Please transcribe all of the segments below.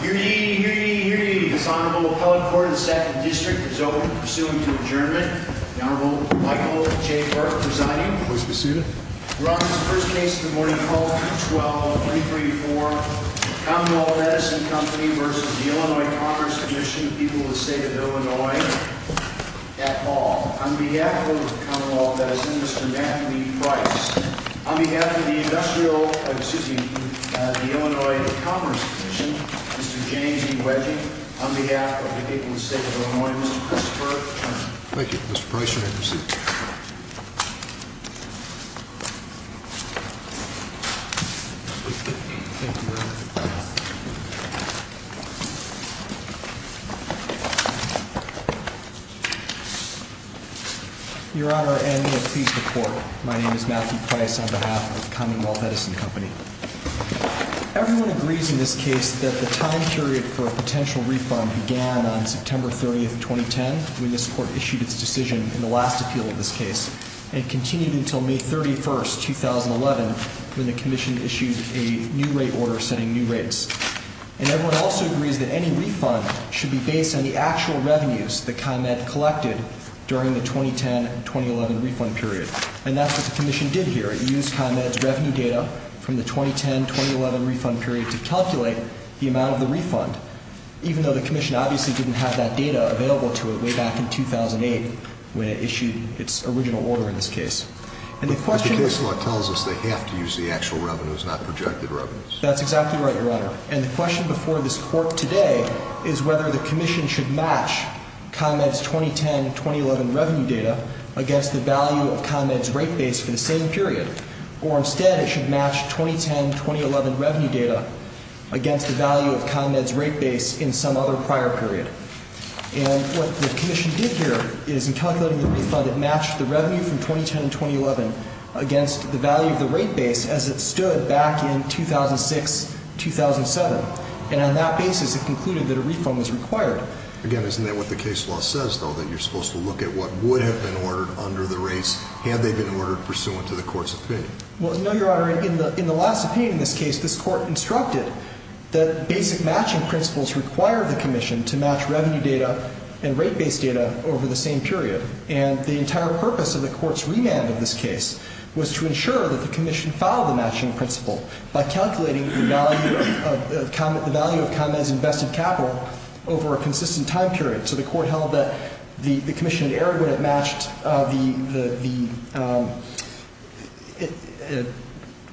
Here ye, here ye, here ye, this Honorable Appellate Court of the 2nd District is open for pursuant to adjournment. The Honorable Michael J. Burke presiding. Please be seated. We're on this first case of the morning, 12-12-23-4. Commonwealth Edison Company v. Illinois Commerce Commission, People of the State of Illinois. At all. On behalf of Commonwealth Edison, Mr. Matthew Lee Price. On behalf of the Illinois Commerce Commission, Mr. James E. Wedgey. On behalf of the people of the State of Illinois, Mr. Chris Burke. Thank you, Mr. Price. You may be seated. Your Honor, and may it please the Court, my name is Matthew Price on behalf of Commonwealth Edison Company. Everyone agrees in this case that the time period for a potential refund began on September 30, 2010, when this Court issued its decision in the last appeal of this case. And it continued until May 31, 2011, when the Commission issued a new rate order setting new rates. And everyone also agrees that any refund should be based on the actual revenues that ComEd collected during the 2010-2011 refund period. And that's what the Commission did here. It used ComEd's revenue data from the 2010-2011 refund period to calculate the amount of the refund. Even though the Commission obviously didn't have that data available to it way back in 2008 when it issued its original order in this case. But the case law tells us they have to use the actual revenues, not projected revenues. That's exactly right, Your Honor. And the question before this Court today is whether the Commission should match ComEd's 2010-2011 revenue data against the value of ComEd's rate base for the same period. Or instead, it should match 2010-2011 revenue data against the value of ComEd's rate base in some other prior period. And what the Commission did here is in calculating the refund, it matched the revenue from 2010-2011 against the value of the rate base as it stood back in 2006-2007. And on that basis, it concluded that a refund was required. Again, isn't that what the case law says, though, that you're supposed to look at what would have been ordered under the rates had they been ordered pursuant to the Court's opinion? Well, no, Your Honor. In the last opinion in this case, this Court instructed that basic matching principles require the Commission to match revenue data and rate base data over the same period. And the entire purpose of the Court's remand of this case was to ensure that the Commission followed the matching principle by calculating the value of ComEd's invested capital over a consistent time period. So the Court held that the Commission had errored when it matched the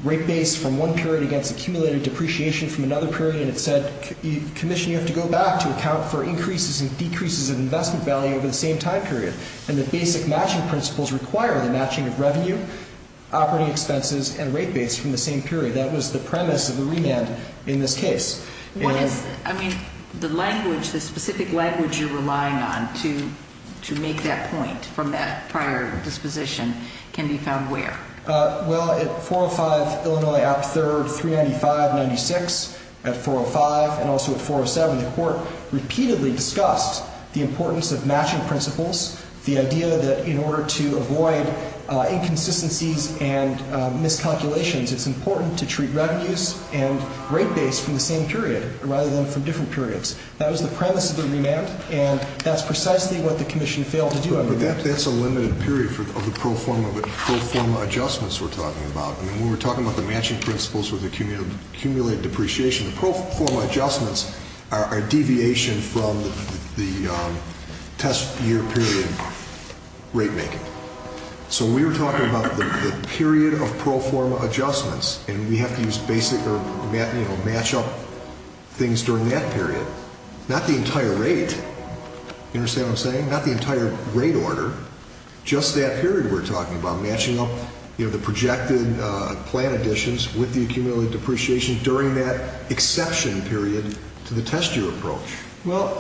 rate base from one period against accumulated depreciation from another period. And it said, Commission, you have to go back to account for increases and decreases in investment value over the same time period. And the basic matching principles require the matching of revenue, operating expenses, and rate base from the same period. That was the premise of the remand in this case. I mean, the language, the specific language you're relying on to make that point from that prior disposition can be found where? Well, at 405 Illinois Act III, 395-96. At 405 and also at 407, the Court repeatedly discussed the importance of matching principles, the idea that in order to avoid inconsistencies and miscalculations, it's important to treat revenues and rate base from the same period rather than from different periods. That was the premise of the remand, and that's precisely what the Commission failed to do. But that's a limited period of the pro forma adjustments we're talking about. I mean, when we're talking about the matching principles with accumulated depreciation, the pro forma adjustments are a deviation from the test year period rate making. So we were talking about the period of pro forma adjustments, and we have to use basic or match up things during that period. Not the entire rate. You understand what I'm saying? Not the entire rate order. Just that period we're talking about, matching up the projected plan additions with the accumulated depreciation during that exception period to the test year approach. Well,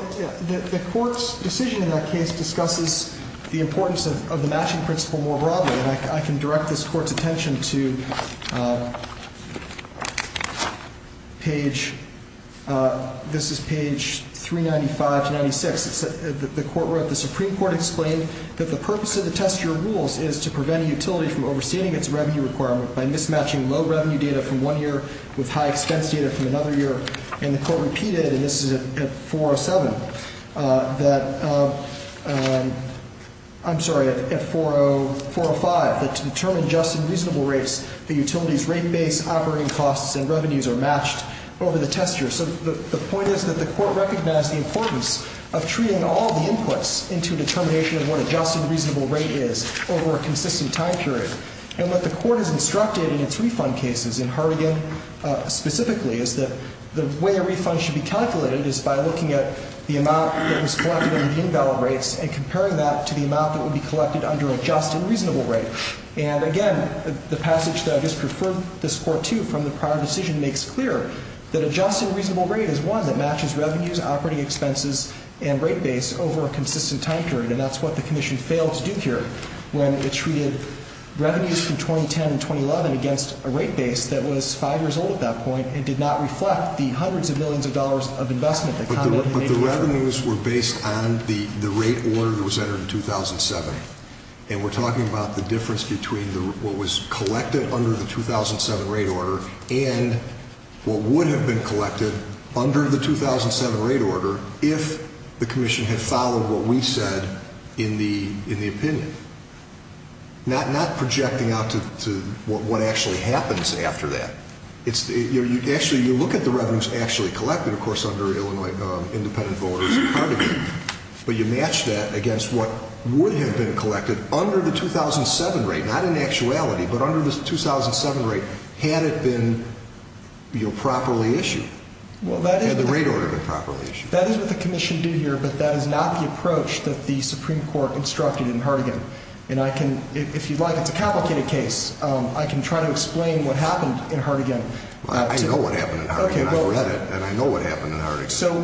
the Court's decision in that case discusses the importance of the matching principle more broadly, and I can direct this Court's attention to page, this is page 395-96. The Court wrote, the Supreme Court explained that the purpose of the test year rules is to prevent a utility from overstating its revenue requirement by mismatching low revenue data from one year with high expense data from another year. And the Court repeated, and this is at 407, that, I'm sorry, at 405, that to determine just and reasonable rates, the utility's rate base, operating costs, and revenues are matched over the test year. So the point is that the Court recognized the importance of treating all the inputs into determination of what a just and reasonable rate is over a consistent time period. And what the Court has instructed in its refund cases, in Hartigan specifically, is that the way a refund should be calculated is by looking at the amount that was collected under the invalid rates and comparing that to the amount that would be collected under a just and reasonable rate. And again, the passage that I just referred this Court to from the prior decision makes clear that a just and reasonable rate is one that matches revenues, operating expenses, and rate base over a consistent time period. And that's what the Commission failed to do here when it treated revenues from 2010 and 2011 against a rate base that was five years old at that point and did not reflect the hundreds of millions of dollars of investment. But the revenues were based on the rate order that was entered in 2007. And we're talking about the difference between what was collected under the 2007 rate order and what would have been collected under the 2007 rate order if the Commission had followed what we said in the opinion. Not projecting out to what actually happens after that. Actually, you look at the revenues actually collected, of course, under Illinois independent voters in Hartigan, but you match that against what would have been collected under the 2007 rate, not in actuality, but under the 2007 rate had it been properly issued. Had the rate order been properly issued. That is what the Commission did here, but that is not the approach that the Supreme Court instructed in Hartigan. And I can, if you'd like, it's a complicated case. I can try to explain what happened in Hartigan. I know what happened in Hartigan. Okay, go ahead. And I know what happened in Hartigan. So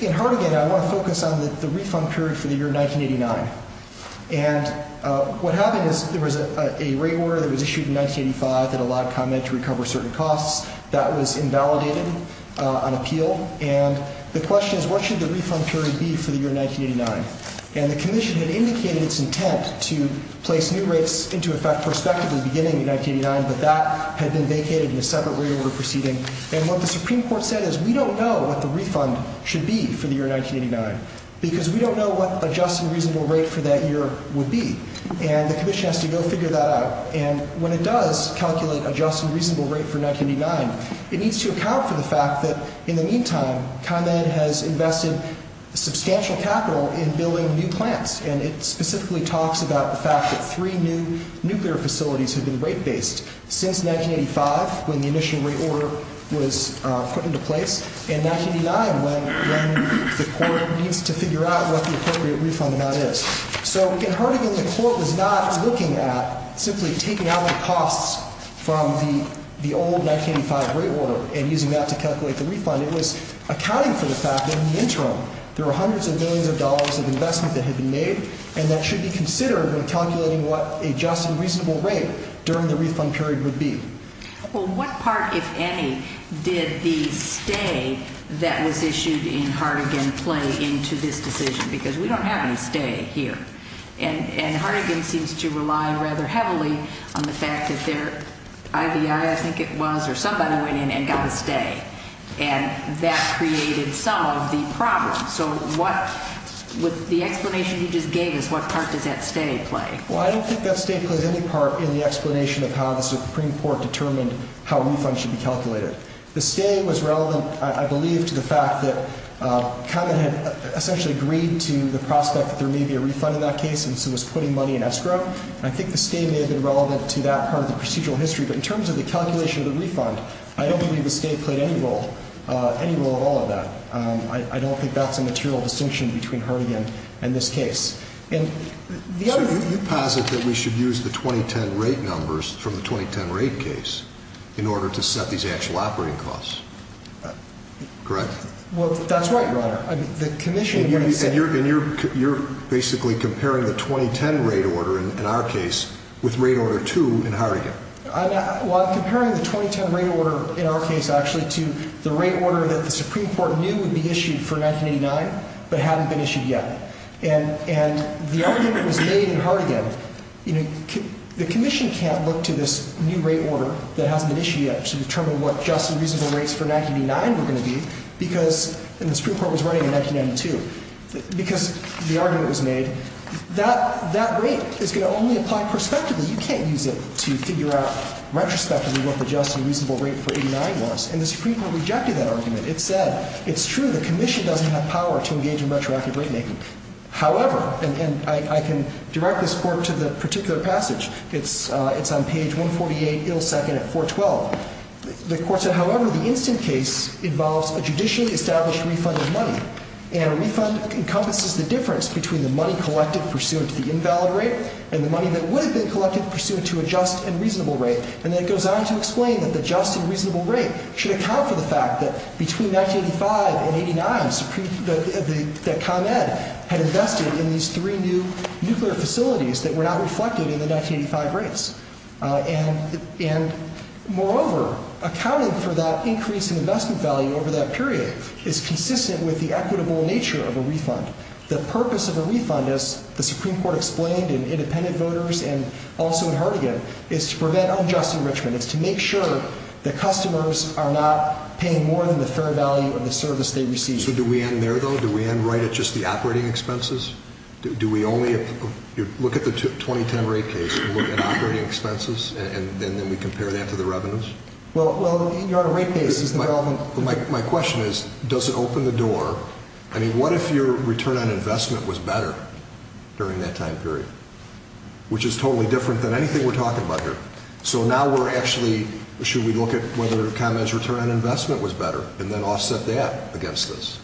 in Hartigan, I want to focus on the refund period for the year 1989. And what happened is there was a rate order that was issued in 1985 that allowed ComEd to recover certain costs. That was invalidated on appeal. And the question is what should the refund period be for the year 1989? And the Commission had indicated its intent to place new rates into effect prospectively beginning in 1989, but that had been vacated in a separate rate order proceeding. And what the Supreme Court said is we don't know what the refund should be for the year 1989 because we don't know what adjusting reasonable rate for that year would be. And the Commission has to go figure that out. And when it does calculate adjusting reasonable rate for 1989, it needs to account for the fact that, in the meantime, ComEd has invested substantial capital in building new plants. And it specifically talks about the fact that three new nuclear facilities have been rate-based since 1985 when the initial rate order was put into place, and 1989 when the court needs to figure out what the appropriate refund amount is. So in Hartigan, the court was not looking at simply taking out the costs from the old 1985 rate order and using that to calculate the refund. It was accounting for the fact that, in the interim, there were hundreds of millions of dollars of investment that had been made, and that should be considered when calculating what adjusting reasonable rate during the refund period would be. Well, what part, if any, did the stay that was issued in Hartigan play into this decision? Because we don't have any stay here. And Hartigan seems to rely rather heavily on the fact that their IVI, I think it was, or somebody went in and got a stay. And that created some of the problems. So what – with the explanation you just gave us, what part does that stay play? Well, I don't think that stay played any part in the explanation of how the Supreme Court determined how refunds should be calculated. The stay was relevant, I believe, to the fact that Kahneman had essentially agreed to the prospect that there may be a refund in that case, and so was putting money in escrow. And I think the stay may have been relevant to that part of the procedural history. But in terms of the calculation of the refund, I don't believe the stay played any role, any role at all of that. I don't think that's a material distinction between Hartigan and this case. So you posit that we should use the 2010 rate numbers from the 2010 rate case in order to set these actual operating costs, correct? Well, that's right, Your Honor. And you're basically comparing the 2010 rate order in our case with rate order two in Hartigan. Well, I'm comparing the 2010 rate order in our case actually to the rate order that the Supreme Court knew would be issued for 1989 but hadn't been issued yet. And the argument was made in Hartigan, you know, the commission can't look to this new rate order that hasn't been issued yet to determine what just and reasonable rates for 1989 were going to be because the Supreme Court was running in 1992. Because the argument was made, that rate is going to only apply prospectively. You can't use it to figure out retrospectively what the just and reasonable rate for 1989 was. And the Supreme Court rejected that argument. It said, it's true the commission doesn't have power to engage in retroactive rate making. However, and I can direct this court to the particular passage. It's on page 148 ill second at 412. The court said, however, the instant case involves a judicially established refund of money. And a refund encompasses the difference between the money collected pursuant to the invalid rate and the money that would have been collected pursuant to a just and reasonable rate. And then it goes on to explain that the just and reasonable rate should account for the fact that between 1985 and 89, that ComEd had invested in these three new nuclear facilities that were not reflected in the 1985 rates. And moreover, accounting for that increase in investment value over that period is consistent with the equitable nature of a refund. The purpose of a refund, as the Supreme Court explained in Independent Voters and also in Hartigan, is to prevent unjust enrichment. It's to make sure that customers are not paying more than the fair value of the service they receive. So do we end there, though? Do we end right at just the operating expenses? Do we only look at the 2010 rate case and look at operating expenses, and then we compare that to the revenues? Well, you're on a rate case. My question is, does it open the door? I mean, what if your return on investment was better during that time period, which is totally different than anything we're talking about here? So now we're actually, should we look at whether ComEd's return on investment was better and then offset that against this?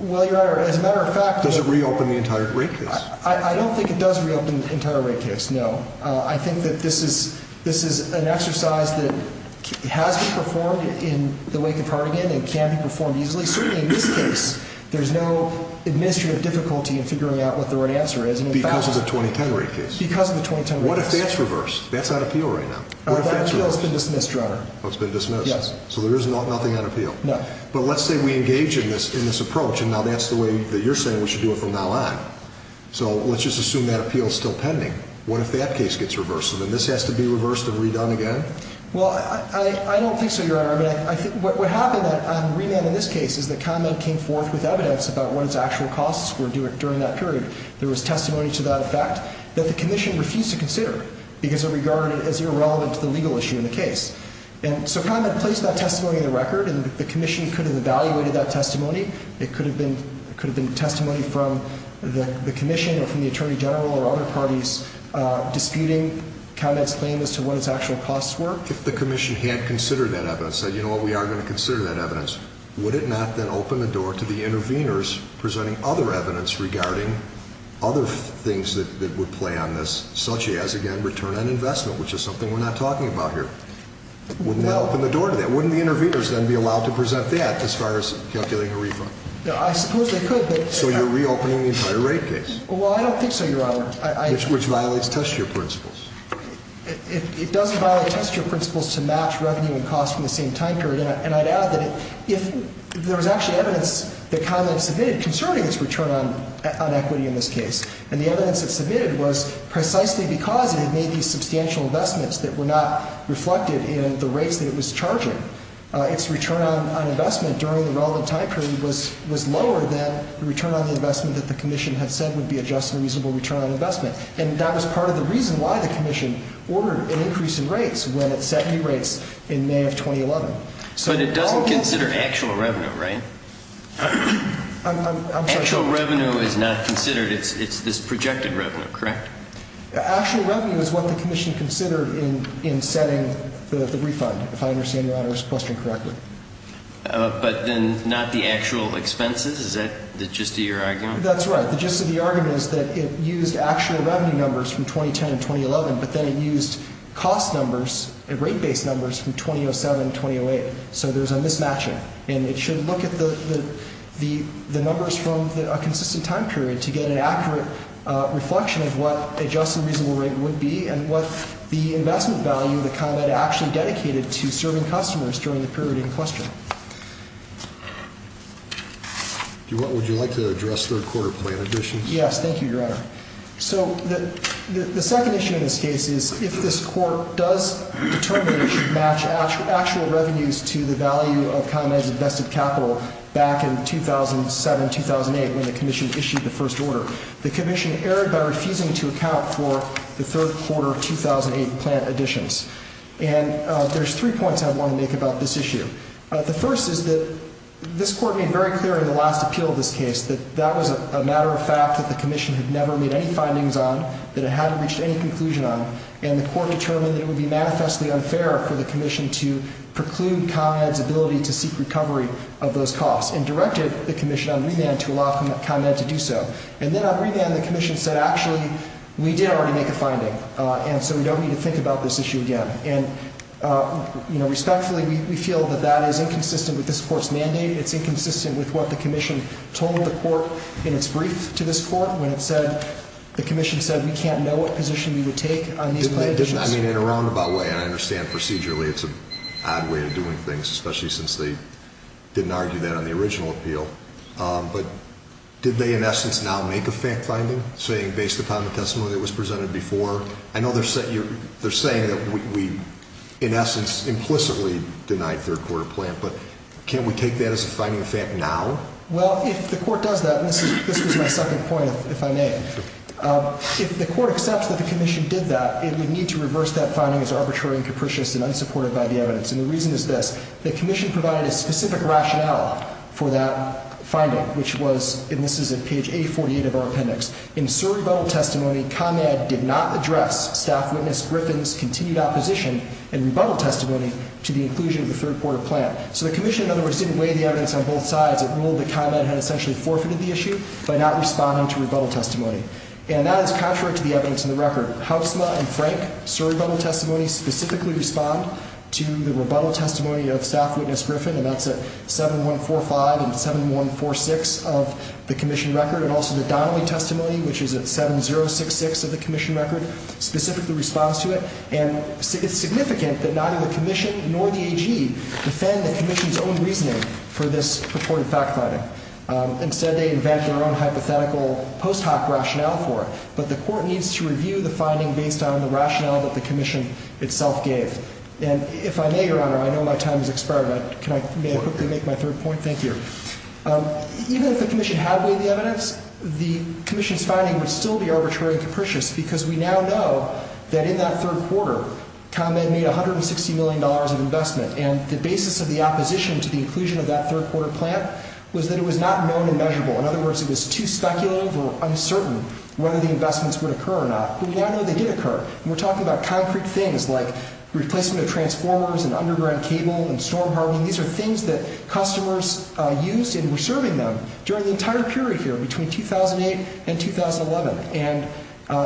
Well, Your Honor, as a matter of fact, does it reopen the entire rate case? I don't think it does reopen the entire rate case, no. I think that this is an exercise that has been performed in the wake of Hartigan and can be performed easily. Certainly in this case, there's no administrative difficulty in figuring out what the right answer is. Because of the 2010 rate case? Because of the 2010 rate case. What if that's reversed? That's on appeal right now. That appeal has been dismissed, Your Honor. Oh, it's been dismissed? Yes. So there is nothing on appeal? No. But let's say we engage in this approach, and now that's the way that you're saying we should do it from now on. So let's just assume that appeal is still pending. What if that case gets reversed? So then this has to be reversed and redone again? Well, I don't think so, Your Honor. What happened on remand in this case is that ComEd came forth with evidence about what its actual costs were during that period. There was testimony to that effect that the Commission refused to consider because it regarded it as irrelevant to the legal issue in the case. And so ComEd placed that testimony in the record, and the Commission could have evaluated that testimony. It could have been testimony from the Commission or from the Attorney General or other parties disputing ComEd's claim as to what its actual costs were. If the Commission had considered that evidence, said, you know what, we are going to consider that evidence, would it not then open the door to the interveners presenting other evidence regarding other things that would play on this, such as, again, return on investment, which is something we're not talking about here? Wouldn't that open the door to that? Wouldn't the interveners then be allowed to present that as far as calculating a refund? I suppose they could. So you're reopening the entire rate case. Well, I don't think so, Your Honor. Which violates test year principles. It doesn't violate test year principles to match revenue and costs from the same time period. And I'd add that if there was actually evidence that ComEd submitted concerning its return on equity in this case, and the evidence it submitted was precisely because it had made these substantial investments that were not reflected in the rates that it was charging. Its return on investment during the relevant time period was lower than the return on the investment that the Commission had said would be a just and reasonable return on investment. And that was part of the reason why the Commission ordered an increase in rates when it set new rates in May of 2011. But it doesn't consider actual revenue, right? I'm sorry. Actual revenue is not considered. It's this projected revenue, correct? Actual revenue is what the Commission considered in setting the refund, if I understand Your Honor's question correctly. But then not the actual expenses? Is that the gist of your argument? That's right. The gist of the argument is that it used actual revenue numbers from 2010 and 2011, but then it used cost numbers and rate-based numbers from 2007 and 2008. So there's a mismatching. And it should look at the numbers from a consistent time period to get an accurate reflection of what a just and reasonable rate would be and what the investment value that ComEd actually dedicated to serving customers during the period in question. Would you like to address third-quarter plant additions? Yes. Thank you, Your Honor. So the second issue in this case is if this Court does determine it should match actual revenues to the value of ComEd's invested capital back in 2007-2008 when the Commission issued the first order. The Commission erred by refusing to account for the third-quarter 2008 plant additions. And there's three points I want to make about this issue. The first is that this Court made very clear in the last appeal of this case that that was a matter of fact that the Commission had never made any findings on, that it hadn't reached any conclusion on, and the Court determined that it would be manifestly unfair for the Commission to preclude ComEd's ability to seek recovery of those costs and directed the Commission on remand to allow ComEd to do so. And then on remand, the Commission said, actually, we did already make a finding, and so we don't need to think about this issue again. And, you know, respectfully, we feel that that is inconsistent with this Court's mandate. It's inconsistent with what the Commission told the Court in its brief to this Court when it said, the Commission said we can't know what position we would take on these plant additions. I mean, in a roundabout way, and I understand procedurally it's an odd way of doing things, especially since they didn't argue that on the original appeal. But did they, in essence, now make a finding, saying based upon the testimony that was presented before? I know they're saying that we, in essence, implicitly denied third-quarter plant, but can't we take that as a finding of fact now? Well, if the Court does that, and this was my second point, if I may, if the Court accepts that the Commission did that, it would need to reverse that finding as arbitrary and capricious and unsupported by the evidence. And the reason is this. The Commission provided a specific rationale for that finding, which was, and this is at page 848 of our appendix, in Sir Rebuttal Testimony, ComEd did not address Staff Witness Griffin's continued opposition and rebuttal testimony to the inclusion of the third-quarter plant. So the Commission, in other words, didn't weigh the evidence on both sides. It ruled that ComEd had essentially forfeited the issue by not responding to rebuttal testimony. And that is contrary to the evidence in the record. Haussler and Frank, Sir Rebuttal Testimony, specifically respond to the rebuttal testimony of Staff Witness Griffin, and that's at 7145 and 7146 of the Commission record. And also the Donnelly Testimony, which is at 7066 of the Commission record, specifically responds to it. And it's significant that neither the Commission nor the AG defend the Commission's own reasoning for this purported fact finding. Instead, they invent their own hypothetical post hoc rationale for it. But the Court needs to review the finding based on the rationale that the Commission itself gave. And if I may, Your Honor, I know my time has expired, but can I quickly make my third point? Thank you. Even if the Commission had weighed the evidence, the Commission's finding would still be arbitrary and capricious because we now know that in that third quarter, ComEd made $160 million of investment. And the basis of the opposition to the inclusion of that third-quarter plant was that it was not known and measurable. In other words, it was too speculative or uncertain whether the investments would occur or not. But we now know they did occur. And we're talking about concrete things like replacement of transformers and underground cable and storm hardening. These are things that customers used and were serving them during the entire period here, between 2008 and 2011. And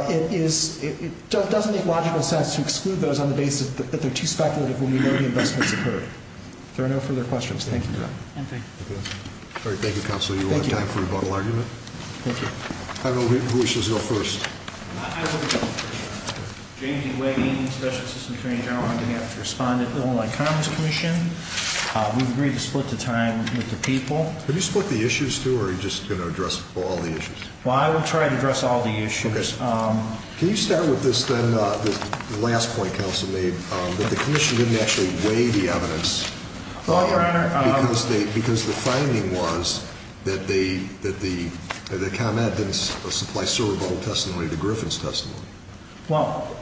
it doesn't make logical sense to exclude those on the basis that they're too speculative when we know the investments occurred. If there are no further questions, thank you, Your Honor. Thank you, Counselor. You have time for rebuttal argument. Thank you. Who wishes to go first? I will go first. James E. Wegging, Special Assistant Attorney General. I'm going to have to respond to the Illinois Commerce Commission. We've agreed to split the time with the people. Have you split the issues, too, or are you just going to address all the issues? Well, I will try to address all the issues. Okay. Can you start with this then, the last point Counsel made, that the Commission didn't actually weigh the evidence? Well, Your Honor, Because the finding was that ComEd didn't supply server bottle testimony to Griffin's testimony. Well,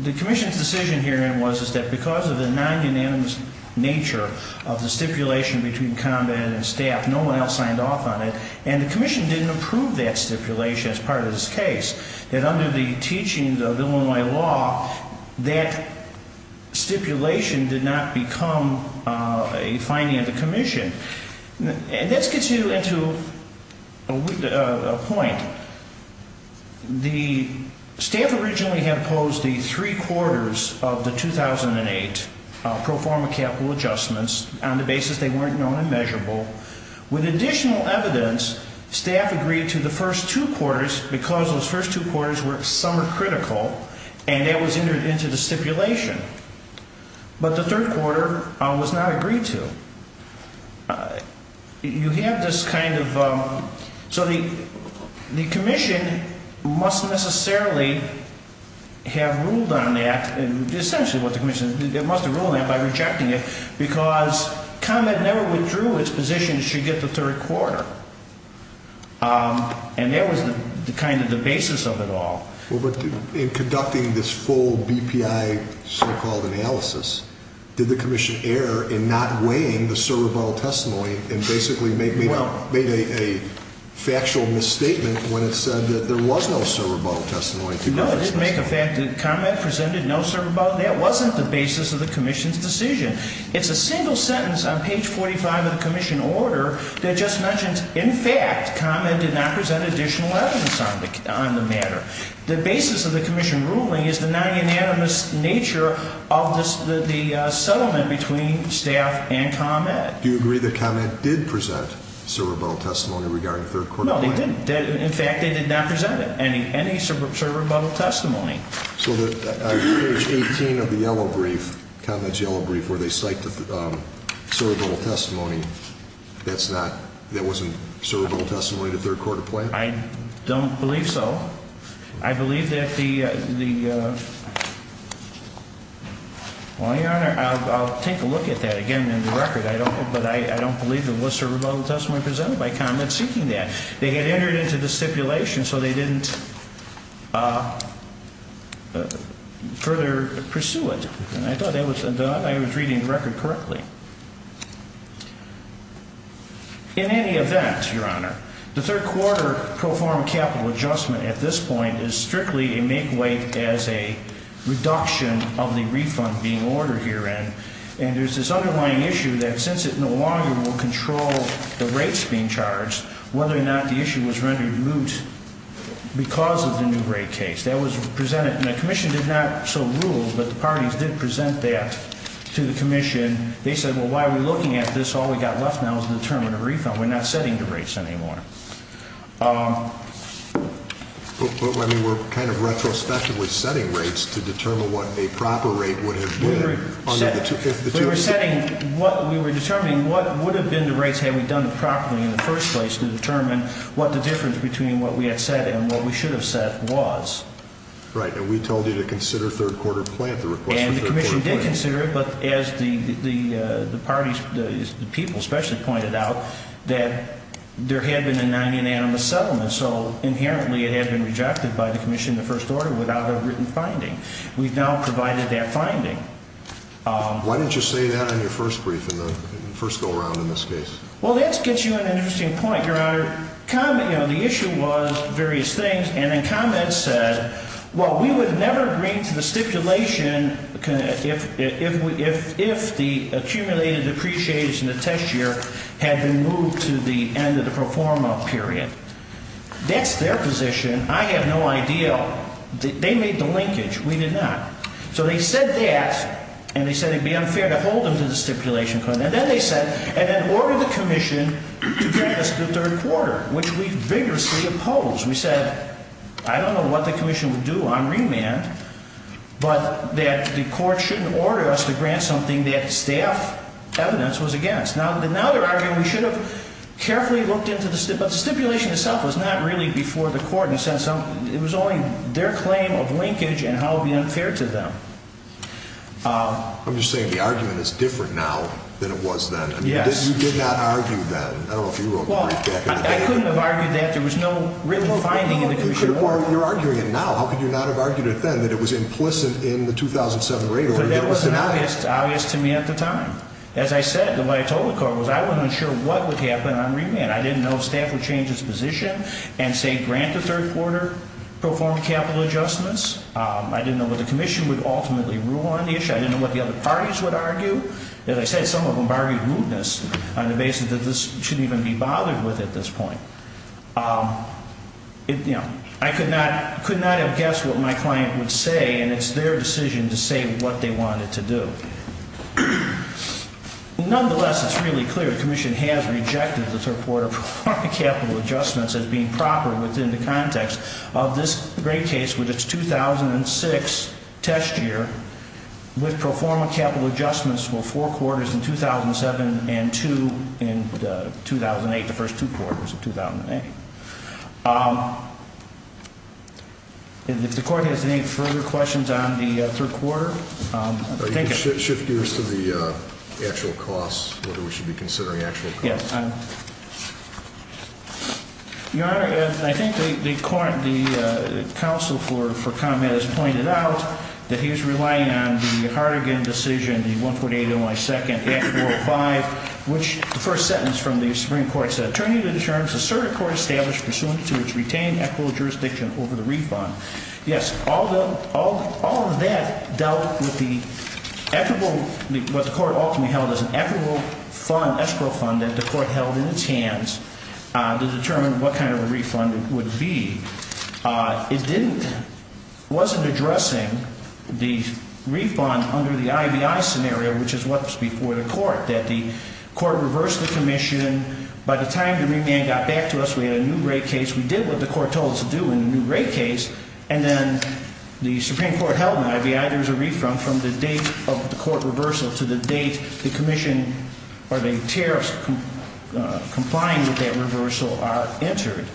the Commission's decision here then was that because of the non-unanimous nature of the stipulation between ComEd and staff, no one else signed off on it, and the Commission didn't approve that stipulation as part of this case. And under the teachings of Illinois law, that stipulation did not become a finding of the Commission. And this gets you into a point. The staff originally had opposed the three quarters of the 2008 pro forma capital adjustments on the basis they weren't known and measurable. With additional evidence, staff agreed to the first two quarters because those first two quarters were summer critical, and that was entered into the stipulation. But the third quarter was not agreed to. You have this kind of, so the Commission must necessarily have ruled on that, essentially what the Commission, it must have ruled on that by rejecting it because ComEd never withdrew its position it should get the third quarter. And that was kind of the basis of it all. Well, but in conducting this full BPI so-called analysis, did the Commission err in not weighing the server bottle testimony and basically made a factual misstatement when it said that there was no server bottle testimony to Griffin's testimony? No, it didn't make a fact that ComEd presented no server bottle. That wasn't the basis of the Commission's decision. It's a single sentence on page 45 of the Commission order that just mentions, in fact, ComEd did not present additional evidence on the matter. The basis of the Commission ruling is the non-unanimous nature of the settlement between staff and ComEd. Do you agree that ComEd did present server bottle testimony regarding the third quarter? No, they didn't. In fact, they did not present any server bottle testimony. So on page 18 of the yellow brief, ComEd's yellow brief, where they cite server bottle testimony, that's not, that wasn't server bottle testimony in the third quarter plan? I don't believe so. I believe that the, well, Your Honor, I'll take a look at that again in the record. I don't, but I don't believe there was server bottle testimony presented by ComEd seeking that. They had entered into the stipulation, so they didn't further pursue it. And I thought I was reading the record correctly. In any event, Your Honor, the third quarter pro forma capital adjustment at this point is strictly a make weight as a reduction of the refund being ordered herein. And there's this underlying issue that since it no longer will control the rates being charged, whether or not the issue was rendered moot because of the new rate case. That was presented, and the Commission did not so rule, but the parties did present that to the Commission. They said, well, why are we looking at this? All we've got left now is the term of the refund. We're not setting the rates anymore. I mean, we're kind of retrospectively setting rates to determine what a proper rate would have been. We were setting, we were determining what would have been the rates had we done it properly in the first place to determine what the difference between what we had set and what we should have set was. Right, and we told you to consider third quarter plan at the request of third quarter plan. And the Commission did consider it, but as the parties, the people especially pointed out, that there had been a non-unanimous settlement. So inherently it had been rejected by the Commission in the first order without a written finding. We've now provided that finding. Why didn't you say that in your first brief, in the first go around in this case? Well, that gets you an interesting point, Your Honor. The issue was various things, and then comments said, well, we would never agree to the stipulation if the accumulated depreciation of the test year had been moved to the end of the pro forma period. That's their position. I have no idea. They made the linkage. We did not. So they said that, and they said it would be unfair to hold them to the stipulation. And then they said, and then ordered the Commission to grant us the third quarter, which we vigorously opposed. We said, I don't know what the Commission would do on remand, but that the Court shouldn't order us to grant something that staff evidence was against. Now they're arguing we should have carefully looked into the stipulation, but the stipulation itself was not really before the Court. It was only their claim of linkage and how it would be unfair to them. I'm just saying the argument is different now than it was then. Yes. You did not argue then. I don't know if you wrote the brief back in the day. I couldn't have argued that. There was no written finding in the Commission report. You're arguing it now. How could you not have argued it then that it was implicit in the 2007 rate order that was denied? That wasn't obvious to me at the time. As I said, what I told the Court was I wasn't sure what would happen on remand. I didn't know if staff would change its position and say grant the third quarter, perform capital adjustments. I didn't know what the Commission would ultimately rule on the issue. I didn't know what the other parties would argue. As I said, some of them argued rudeness on the basis that this shouldn't even be bothered with at this point. I could not have guessed what my client would say, and it's their decision to say what they wanted to do. Nonetheless, it's really clear the Commission has rejected the third quarter capital adjustments as being proper within the context of this great case, with its 2006 test year, would perform capital adjustments for four quarters in 2007 and two in 2008, the first two quarters of 2008. If the Court has any further questions on the third quarter? You can shift gears to the actual costs, whether we should be considering actual costs. Yes. Your Honor, I think the counsel for comment has pointed out that he's relying on the Hartigan decision, the 148.1.2, Act 405, which the first sentence from the Supreme Court said, turning to the terms the circuit court established pursuant to its retained equitable jurisdiction over the refund. Yes, all of that dealt with what the Court ultimately held as an equitable escrow fund that the Court held in its hands to determine what kind of a refund it would be. It wasn't addressing the refund under the IBI scenario, which is what was before the Court, that the Court reversed the Commission. By the time the remand got back to us, we had a new rate case. We did what the Court told us to do in the new rate case. And then the Supreme Court held in IBI there was a refund from the date of the Court reversal to the date the Commission or the tariffs complying with that reversal are entered.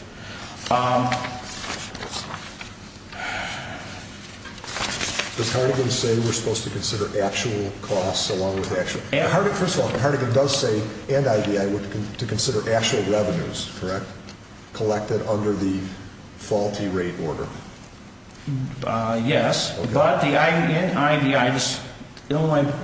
Does Hartigan say we're supposed to consider actual costs along with actual? First of all, Hartigan does say, and IBI, we're to consider actual revenues, correct? Collected under the faulty rate order. Yes, but in IBI,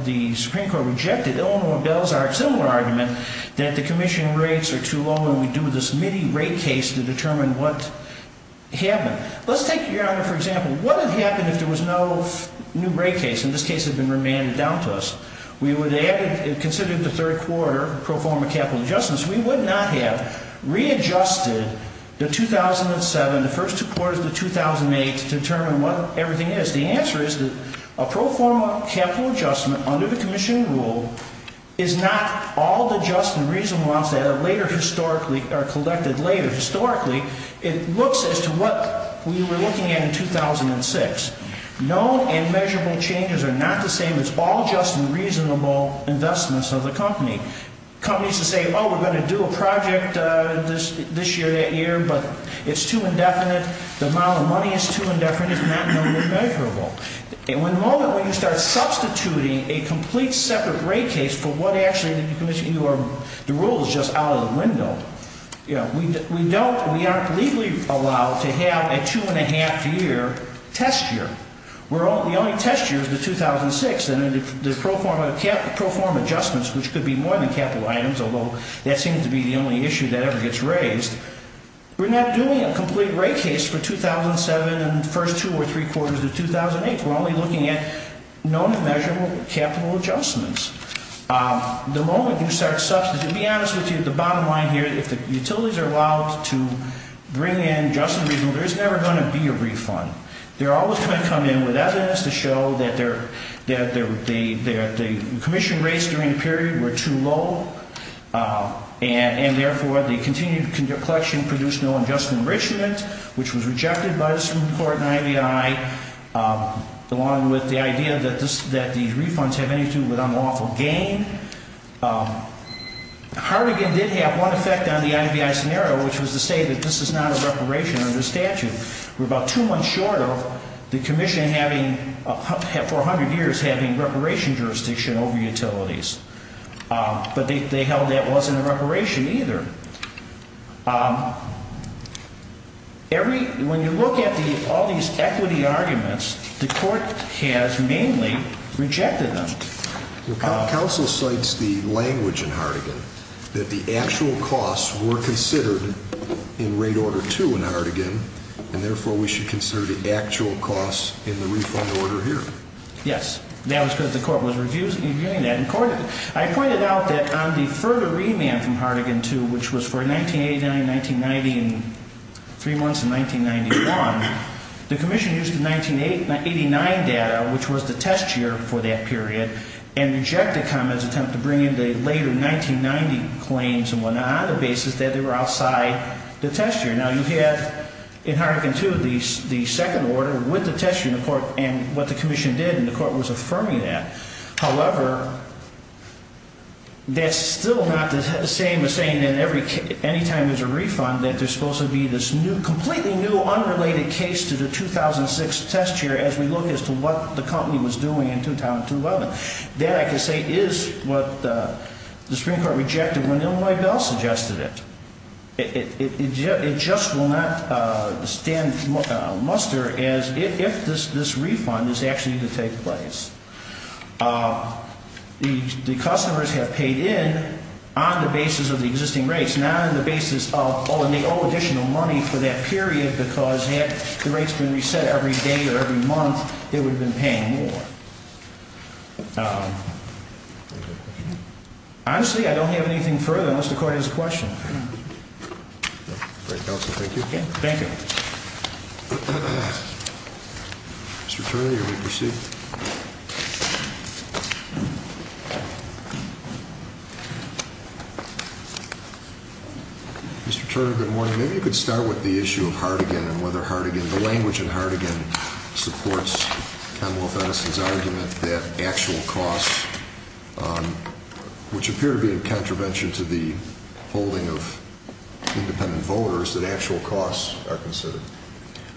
the Supreme Court rejected. Illinois bills are a similar argument that the Commission rates are too low and we do this mini rate case to determine what happened. Let's take, Your Honor, for example, what would happen if there was no new rate case? In this case, it had been remanded down to us. We would have considered the third quarter pro forma capital adjustments. We would not have readjusted the 2007, the first two quarters of the 2008 to determine what everything is. The answer is that a pro forma capital adjustment under the Commission rule is not all the just and reasonable amounts that are later historically are collected later. Historically, it looks as to what we were looking at in 2006. Known and measurable changes are not the same. It's all just and reasonable investments of the company. Companies that say, oh, we're going to do a project this year, that year, but it's too indefinite, the amount of money is too indefinite, it's not known and measurable. The moment when you start substituting a complete separate rate case for what actually the rule is just out of the window, we aren't legally allowed to have a two-and-a-half-year test year. The only test year is the 2006, and the pro forma adjustments, which could be more than capital items, although that seems to be the only issue that ever gets raised, we're not doing a complete rate case for 2007 and the first two or three quarters of 2008. We're only looking at known and measurable capital adjustments. The moment you start substituting, to be honest with you, the bottom line here, if the utilities are allowed to bring in just and reasonable, there's never going to be a refund. They're always going to come in with evidence to show that the commission rates during the period were too low, and therefore the continued collection produced no adjustment enrichment, which was rejected by the Supreme Court and IBI, along with the idea that these refunds have anything to do with unlawful gain. Hartigan did have one effect on the IBI scenario, which was to say that this is not a reparation under statute. We're about two months short of the commission for 100 years having reparation jurisdiction over utilities. But they held that wasn't a reparation either. When you look at all these equity arguments, the court has mainly rejected them. Counsel cites the language in Hartigan that the actual costs were considered in Rate Order 2 in Hartigan, and therefore we should consider the actual costs in the refund order here. Yes. That was because the court was reviewing that. I pointed out that on the further remand from Hartigan 2, which was for 1989, 1990, and three months in 1991, the commission used the 1989 data, which was the test year for that period, and rejected comments attempting to bring in the later 1990 claims on the basis that they were outside the test year. Now, you have in Hartigan 2 the second order with the test year in the court and what the commission did, and the court was affirming that. However, that's still not the same as saying any time there's a refund that there's supposed to be this completely new unrelated case to the 2006 test year as we look as to what the company was doing in 2011. That, I can say, is what the Supreme Court rejected when Illinois Bell suggested it. It just will not stand muster as if this refund is actually to take place. The customers have paid in on the basis of the existing rates, not on the basis of, oh, and they owe additional money for that period because had the rates been reset every day or every month, they would have been paying more. Honestly, I don't have anything further unless the court has a question. All right, counsel, thank you. Thank you. Mr. Turner, you may proceed. Mr. Turner, good morning. Maybe you could start with the issue of Hartigan and whether Hartigan, the language in Hartigan supports Ken Wolf Edison's argument that actual costs, which appear to be in contravention to the holding of independent voters, that actual costs are considered.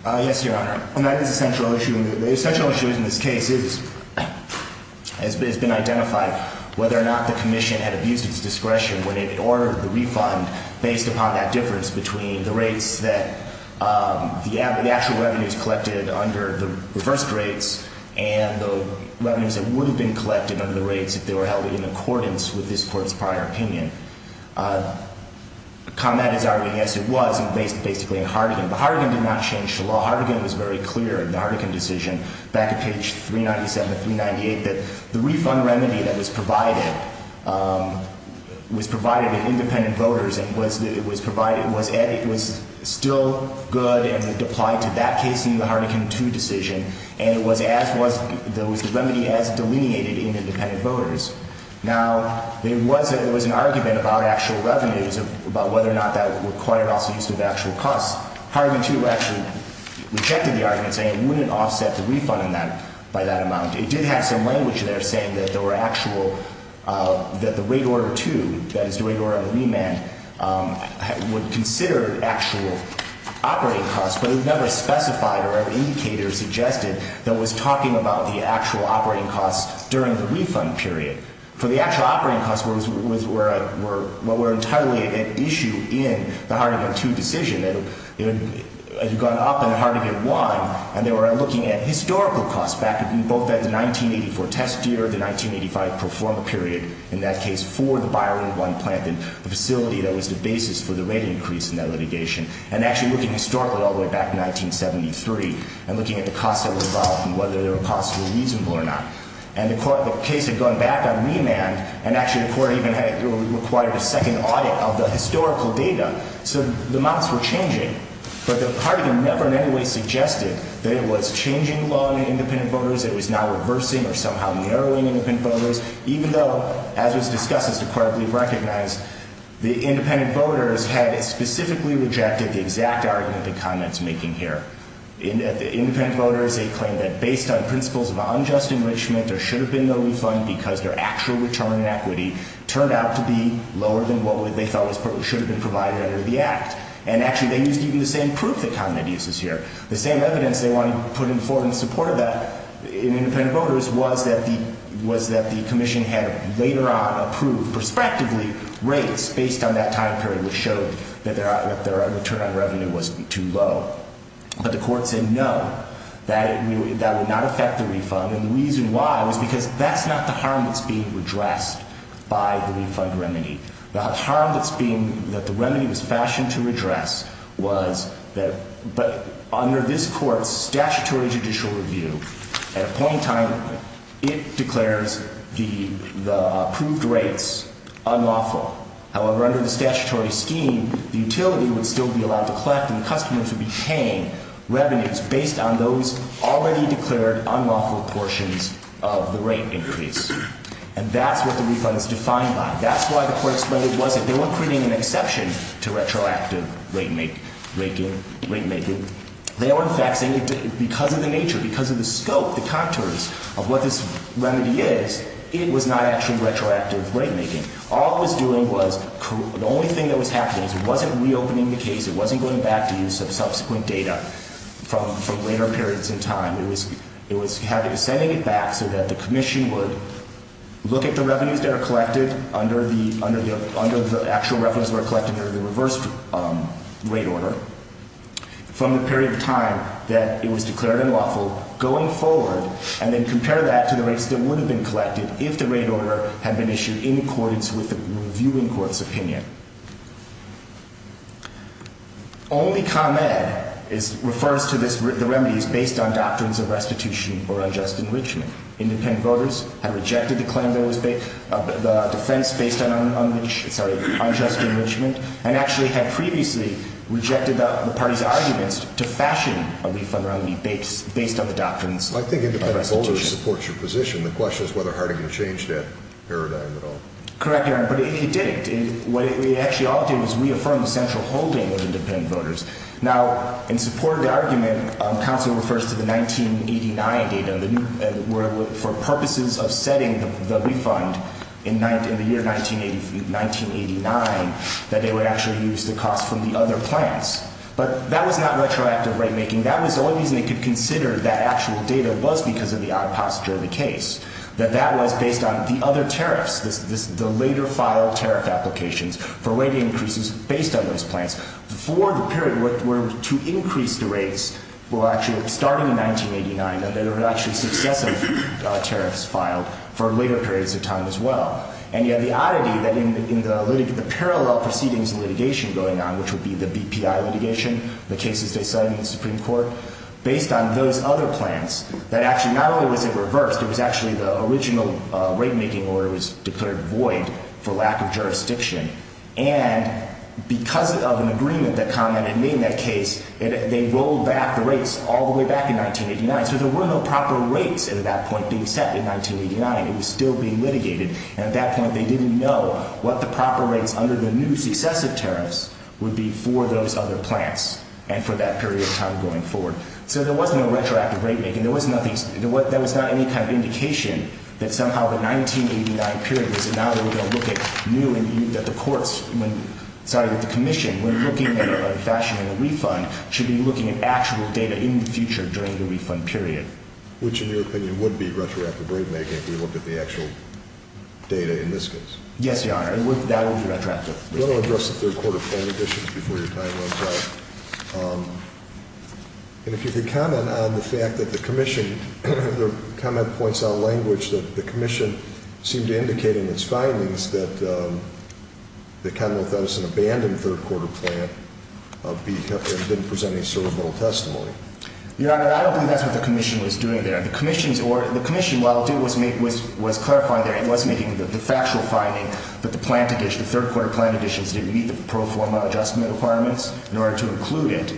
Yes, Your Honor, and that is a central issue. The central issue in this case has been identified whether or not the commission had abused its discretion when it ordered the refund based upon that difference between the rates that the actual revenues collected under the reversed rates and the revenues that would have been collected under the rates if they were held in accordance with this court's prior opinion. The comment is arguing, yes, it was, basically, in Hartigan. But Hartigan did not change the law. Hartigan was very clear in the Hartigan decision back at page 397 to 398 that the refund remedy that was provided was provided to independent voters and it was still good and it applied to that case in the Hartigan 2 decision and it was the remedy as delineated in independent voters. Now, there was an argument about actual revenues, about whether or not that required also use of actual costs. Hartigan 2 actually rejected the argument saying it wouldn't offset the refund by that amount. It did have some language there saying that the rate order 2, that is the rate order of remand, would consider actual operating costs, but it never specified or indicated or suggested that it was talking about the actual operating costs during the refund period. So the actual operating costs were entirely at issue in the Hartigan 2 decision. It had gone up in Hartigan 1 and they were looking at historical costs back in both the 1984 test year, the 1985 pro forma period, in that case for the Byron 1 plant and the facility that was the basis for the rate increase in that litigation, and actually looking historically all the way back to 1973 and looking at the costs that were involved and whether they were possibly reasonable or not. And the court, the case had gone back on remand and actually the court even required a second audit of the historical data. So the amounts were changing, but the Hartigan never in any way suggested that it was changing the law in independent voters, it was now reversing or somehow narrowing independent voters, even though, as was discussed, as the court I believe recognized, the independent voters had specifically rejected the exact argument the comment's making here. Independent voters, they claimed that based on principles of unjust enrichment, there should have been no refund because their actual return on equity turned out to be lower than what they thought should have been provided under the act. And actually they used even the same proof that Conrad uses here. The same evidence they wanted to put in support of that in independent voters was that the commission had later on approved, prospectively, rates based on that time period which showed that their return on revenue was too low. But the court said no, that would not affect the refund. And the reason why was because that's not the harm that's being redressed by the refund remedy. The harm that the remedy was fashioned to redress was that under this court's statutory judicial review, at a point in time, it declares the approved rates unlawful. However, under the statutory scheme, the utility would still be allowed to collect and customers would be paying revenues based on those already declared unlawful portions of the rate increase. And that's what the refund is defined by. That's why the court explained it wasn't. They weren't creating an exception to retroactive rate making. They were, in fact, saying because of the nature, because of the scope, the contours of what this remedy is, it was not actually retroactive rate making. All it was doing was, the only thing that was happening was it wasn't reopening the case, it wasn't going back to use of subsequent data from later periods in time. It was sending it back so that the commission would look at the revenues that are collected under the actual revenues that are collected under the reverse rate order from the period of time that it was declared unlawful going forward and then compare that to the rates that would have been collected if the rate order had been issued in accordance with the reviewing court's opinion. Only ComEd refers to the remedies based on doctrines of restitution or unjust enrichment. Independent voters have rejected the defense based on unjust enrichment and actually had previously rejected the party's arguments to fashion a refund based on the doctrines of restitution. So I think independent voters support your position. The question is whether Harding changed that paradigm at all. Correct, Your Honor, but he didn't. What he actually did was reaffirm the central holding of independent voters. Now, in support of the argument, counsel refers to the 1989 data for purposes of setting the refund in the year 1989 that they would actually use the cost from the other plans. But that was not retroactive rate making. That was the only reason they could consider that actual data was because of the odd posture of the case, that that was based on the other tariffs, the later filed tariff applications for rate increases based on those plans for the period where to increase the rates were actually starting in 1989 and there were actually successive tariffs filed for later periods of time as well. And yet the oddity that in the parallel proceedings litigation going on, which would be the BPI litigation, the cases they cited in the Supreme Court, based on those other plans, that actually not only was it reversed, it was actually the original rate making order was declared void for lack of jurisdiction. And because of an agreement that commented in that case, they rolled back the rates all the way back in 1989. So there were no proper rates at that point being set in 1989. It was still being litigated. And at that point they didn't know what the proper rates under the new successive tariffs would be for those other plans and for that period of time going forward. So there was no retroactive rate making. There was not any kind of indication that somehow the 1989 period was now that we're going to look at new and new, that the courts, sorry, that the commission, when looking at it in a fashion of a refund, should be looking at actual data in the future during the refund period. Which, in your opinion, would be retroactive rate making if we look at the actual data in this case? Yes, Your Honor. That would be retroactive. I want to address the third quarter plan additions before your time runs out. And if you could comment on the fact that the commission, the comment points out language that the commission seemed to indicate in its findings that the Commonwealth Edison abandoned third quarter plan and didn't present any sort of little testimony. Your Honor, I don't believe that's what the commission was doing there. The commission, while it was clarifying there, it was making the factual finding that the third quarter plan additions didn't meet the pro forma adjustment requirements in order to include it,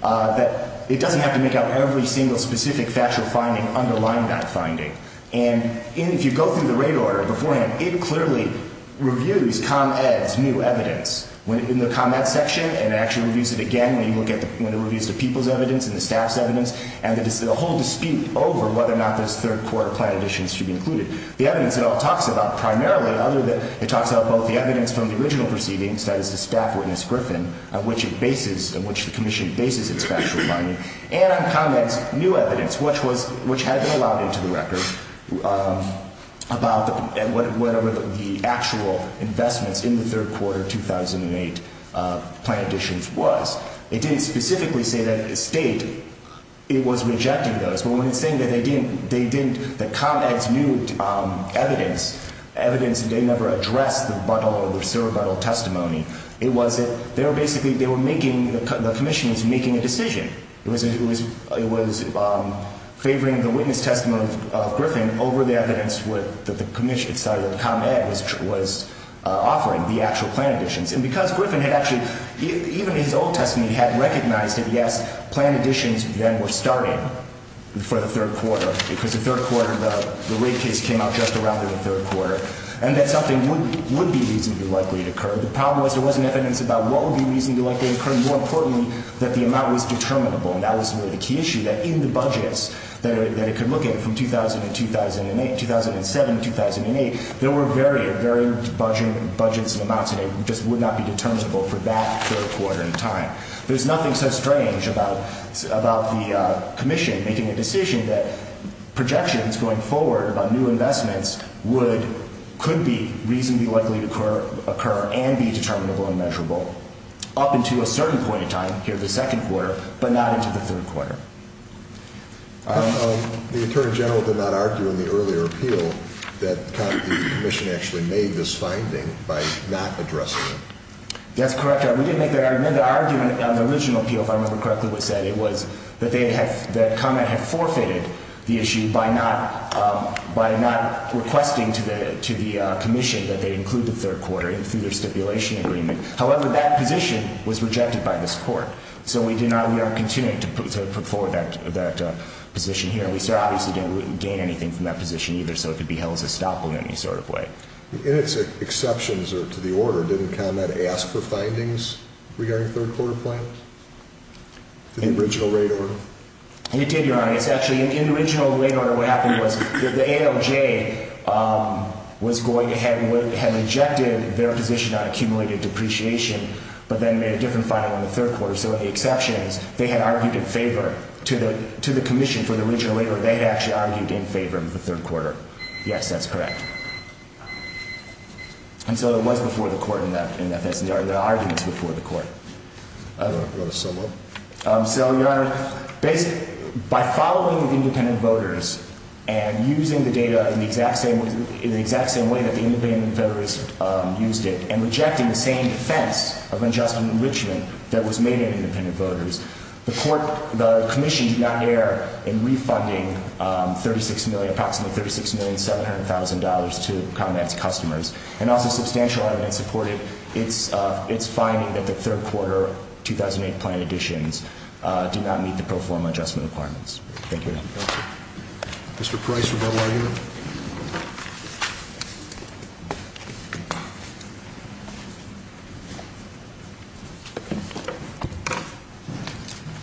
that it doesn't have to make out every single specific factual finding underlying that finding. And if you go through the rate order beforehand, it clearly reviews ComEd's new evidence in the ComEd section and actually reviews it again when it reviews the people's evidence and the staff's evidence and the whole dispute over whether or not those third quarter plan additions should be included. The evidence it all talks about primarily, other than it talks about both the evidence from the original proceedings, that is the staff witness Griffin, on which it bases, on which the commission bases its factual finding, and on ComEd's new evidence, which had been allowed into the record, about whatever the actual investments in the third quarter 2008 plan additions was. It didn't specifically say that the state, it was rejecting those. But when it's saying that they didn't, that ComEd's new evidence, evidence that they never addressed the Buddle or the Sir Buddle testimony, it was that they were basically, they were making, the commission was making a decision. It was favoring the witness testimony of Griffin over the evidence that the commission, that ComEd was offering, the actual plan additions. And because Griffin had actually, even his old testimony had recognized that yes, plan additions then were starting for the third quarter, because the third quarter, the rate case came out just around the third quarter, and that something would be reasonably likely to occur. The problem was there wasn't evidence about what would be reasonably likely to occur, and more importantly, that the amount was determinable. And that was really the key issue, that in the budgets that it could look at from 2000 to 2008, 2007 to 2008, there were varied budgets and amounts, and it just would not be determinable for that third quarter in time. There's nothing so strange about the commission making a decision that projections going forward about new investments would, could be reasonably likely to occur and be determinable and measurable. Up until a certain point in time, here in the second quarter, but not into the third quarter. The attorney general did not argue in the earlier appeal that ComEd, the commission actually made this finding by not addressing it. That's correct. We didn't make that argument. The argument on the original appeal, if I remember correctly what it said, it was that ComEd had forfeited the issue by not requesting to the commission that they include the third quarter through their stipulation agreement. However, that position was rejected by this court. So we did not, we are continuing to put forward that position here. We obviously didn't gain anything from that position either, so it could be held as a stop in any sort of way. In its exceptions to the order, didn't ComEd ask for findings regarding third quarter plans? In the original rate order? It did, Your Honor. It's actually in the original rate order what happened was that the ALJ was going ahead and had rejected their position on accumulated depreciation, but then made a different finding on the third quarter. So in the exceptions, they had argued in favor to the commission for the original rate order. They had actually argued in favor of the third quarter. Yes, that's correct. And so it was before the court in that sense. The argument is before the court. I don't know. Go to Selma. So, Your Honor, by following independent voters and using the data in the exact same way that the independent voters used it and rejecting the same defense of adjustment enrichment that was made in independent voters, the commission did not err in refunding approximately $36,700,000 to ComEd's customers and also substantial evidence supported its finding that the third quarter 2008 plan additions did not meet the pro forma adjustment requirements. Thank you, Your Honor. Mr. Price, rebuttal argument.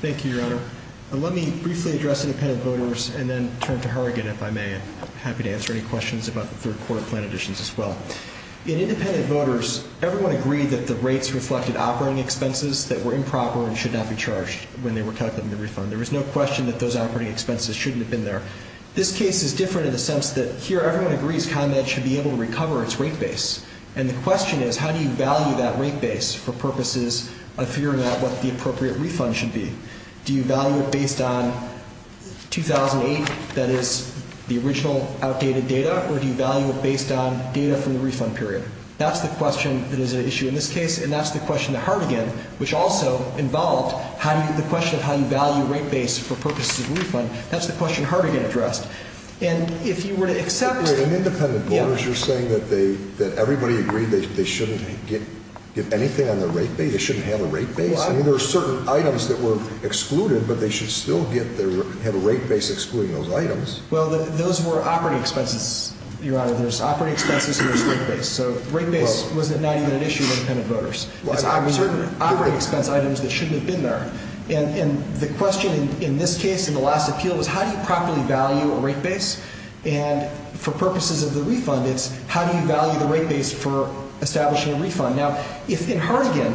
Thank you, Your Honor. Let me briefly address independent voters and then turn to Harrigan if I may. I'm happy to answer any questions about the third quarter plan additions as well. In independent voters, everyone agreed that the rates reflected operating expenses that were improper and should not be charged when they were calculating the refund. There is no question that those operating expenses shouldn't have been there. This case is different in the sense that here everyone agrees ComEd should be able to recover its rate base. And the question is how do you value that rate base for purposes of figuring out what the appropriate refund should be? Do you value it based on 2008, that is, the original outdated data, or do you value it based on data from the refund period? That's the question that is at issue in this case, and that's the question to Harrigan, which also involved the question of how you value rate base for purposes of a refund. That's the question Harrigan addressed. And if you were to accept— But in independent voters, you're saying that everybody agreed they shouldn't get anything on their rate base? They shouldn't have a rate base? I mean, there are certain items that were excluded, but they should still have a rate base excluding those items. Well, those were operating expenses, Your Honor. There's operating expenses and there's rate base. So rate base was not even at issue in independent voters. It's operating expense items that shouldn't have been there. And the question in this case, in the last appeal, was how do you properly value a rate base? And for purposes of the refund, it's how do you value the rate base for establishing a refund? Now, if in Harrigan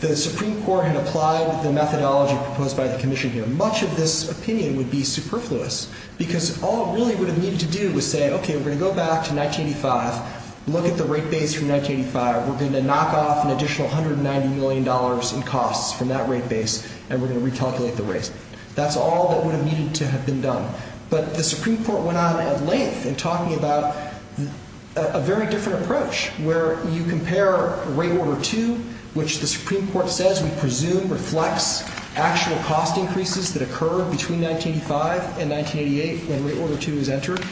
the Supreme Court had applied the methodology proposed by the commission here, much of this opinion would be superfluous because all it really would have needed to do was say, okay, we're going to go back to 1985, look at the rate base from 1985. We're going to knock off an additional $190 million in costs from that rate base, and we're going to recalculate the rate. That's all that would have needed to have been done. But the Supreme Court went on at length in talking about a very different approach where you compare Rate Order 2, which the Supreme Court says we presume reflects actual cost increases that occur between 1985 and 1988 when Rate Order 2 is entered.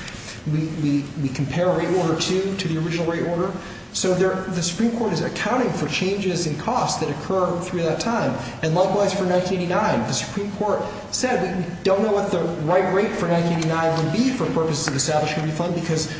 We compare Rate Order 2 to the original Rate Order. So the Supreme Court is accounting for changes in costs that occur through that time, and likewise for 1989. The Supreme Court said we don't know what the right rate for 1989 would be for purposes of establishing a refund because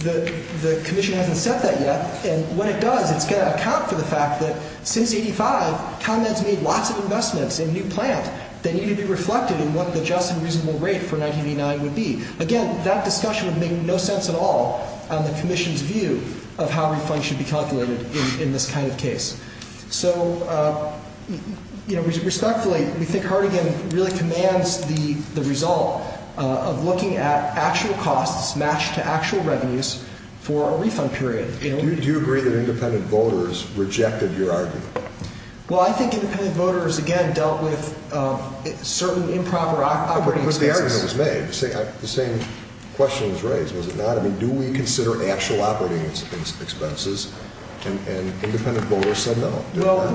the commission hasn't set that yet. And when it does, it's going to account for the fact that since 1985, ComEd has made lots of investments in a new plant that need to be reflected in what the just and reasonable rate for 1989 would be. Again, that discussion would make no sense at all on the commission's view of how refunds should be calculated in this kind of case. So, you know, respectfully, we think Hardigan really commands the result of looking at actual costs matched to actual revenues for a refund period. Do you agree that independent voters rejected your argument? Well, I think independent voters, again, dealt with certain improper operating expenses. The same question was raised, was it not? I mean, do we consider actual operating expenses? And independent voters said no. Well,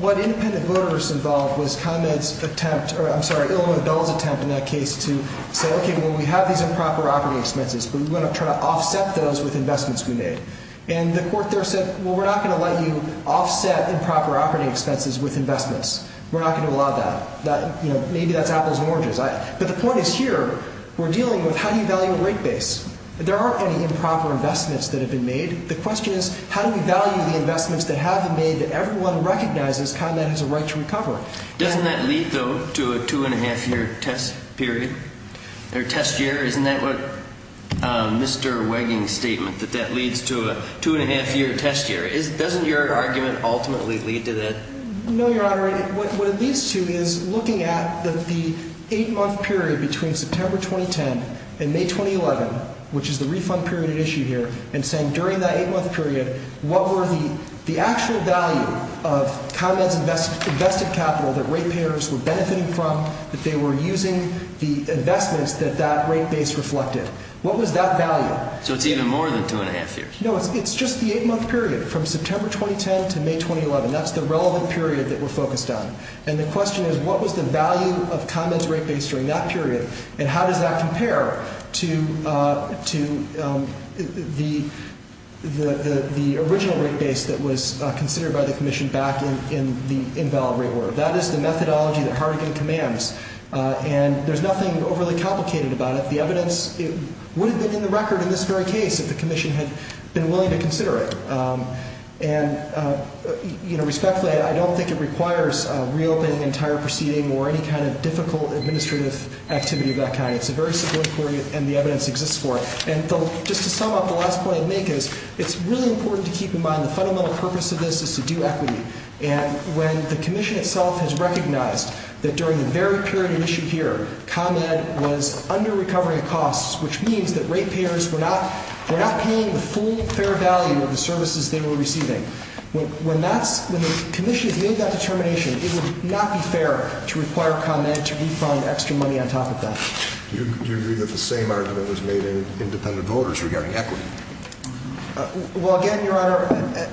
what independent voters involved was ComEd's attempt, or I'm sorry, Illinois Bill's attempt in that case to say, okay, well, we have these improper operating expenses, but we want to try to offset those with investments we made. And the court there said, well, we're not going to let you offset improper operating expenses with investments. We're not going to allow that. You know, maybe that's apples and oranges. But the point is here, we're dealing with how do you value a rate base? There aren't any improper investments that have been made. The question is how do we value the investments that have been made that everyone recognizes ComEd has a right to recover? Doesn't that lead, though, to a two-and-a-half-year test period or test year? Isn't that what Mr. Wegging's statement, that that leads to a two-and-a-half-year test year? Doesn't your argument ultimately lead to that? No, Your Honor. What it leads to is looking at the eight-month period between September 2010 and May 2011, which is the refund period at issue here, and saying during that eight-month period, what were the actual value of ComEd's invested capital that rate payers were benefiting from, that they were using the investments that that rate base reflected? What was that value? So it's even more than two-and-a-half years. No, it's just the eight-month period from September 2010 to May 2011. That's the relevant period that we're focused on. And the question is what was the value of ComEd's rate base during that period, and how does that compare to the original rate base that was considered by the Commission back in the invalid rate order? That is the methodology that Hartigan commands, and there's nothing overly complicated about it. The evidence would have been in the record in this very case if the Commission had been willing to consider it. And respectfully, I don't think it requires reopening the entire proceeding or any kind of difficult administrative activity of that kind. It's a very simple inquiry, and the evidence exists for it. And just to sum up, the last point I'd make is it's really important to keep in mind the fundamental purpose of this is to do equity. And when the Commission itself has recognized that during the very period of issue here, ComEd was under-recovering costs, which means that rate payers were not paying the full fair value of the services they were receiving. When the Commission has made that determination, it would not be fair to require ComEd to refund extra money on top of that. Do you agree that the same argument was made in independent voters regarding equity? Well, again, Your Honor,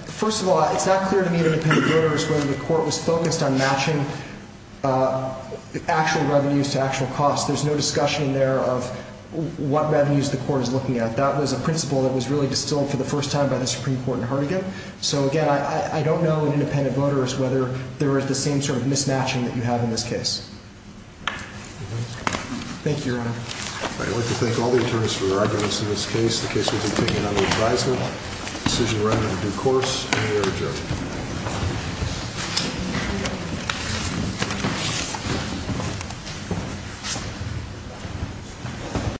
first of all, it's not clear to me in independent voters whether the court was focused on matching actual revenues to actual costs. There's no discussion there of what revenues the court is looking at. That was a principle that was really distilled for the first time by the Supreme Court in Hartigan. So, again, I don't know in independent voters whether there is the same sort of mismatching that you have in this case. Thank you, Your Honor. I'd like to thank all the attorneys for their evidence in this case. The case has been taken under advisement. The decision ran in due course, and we are adjourned.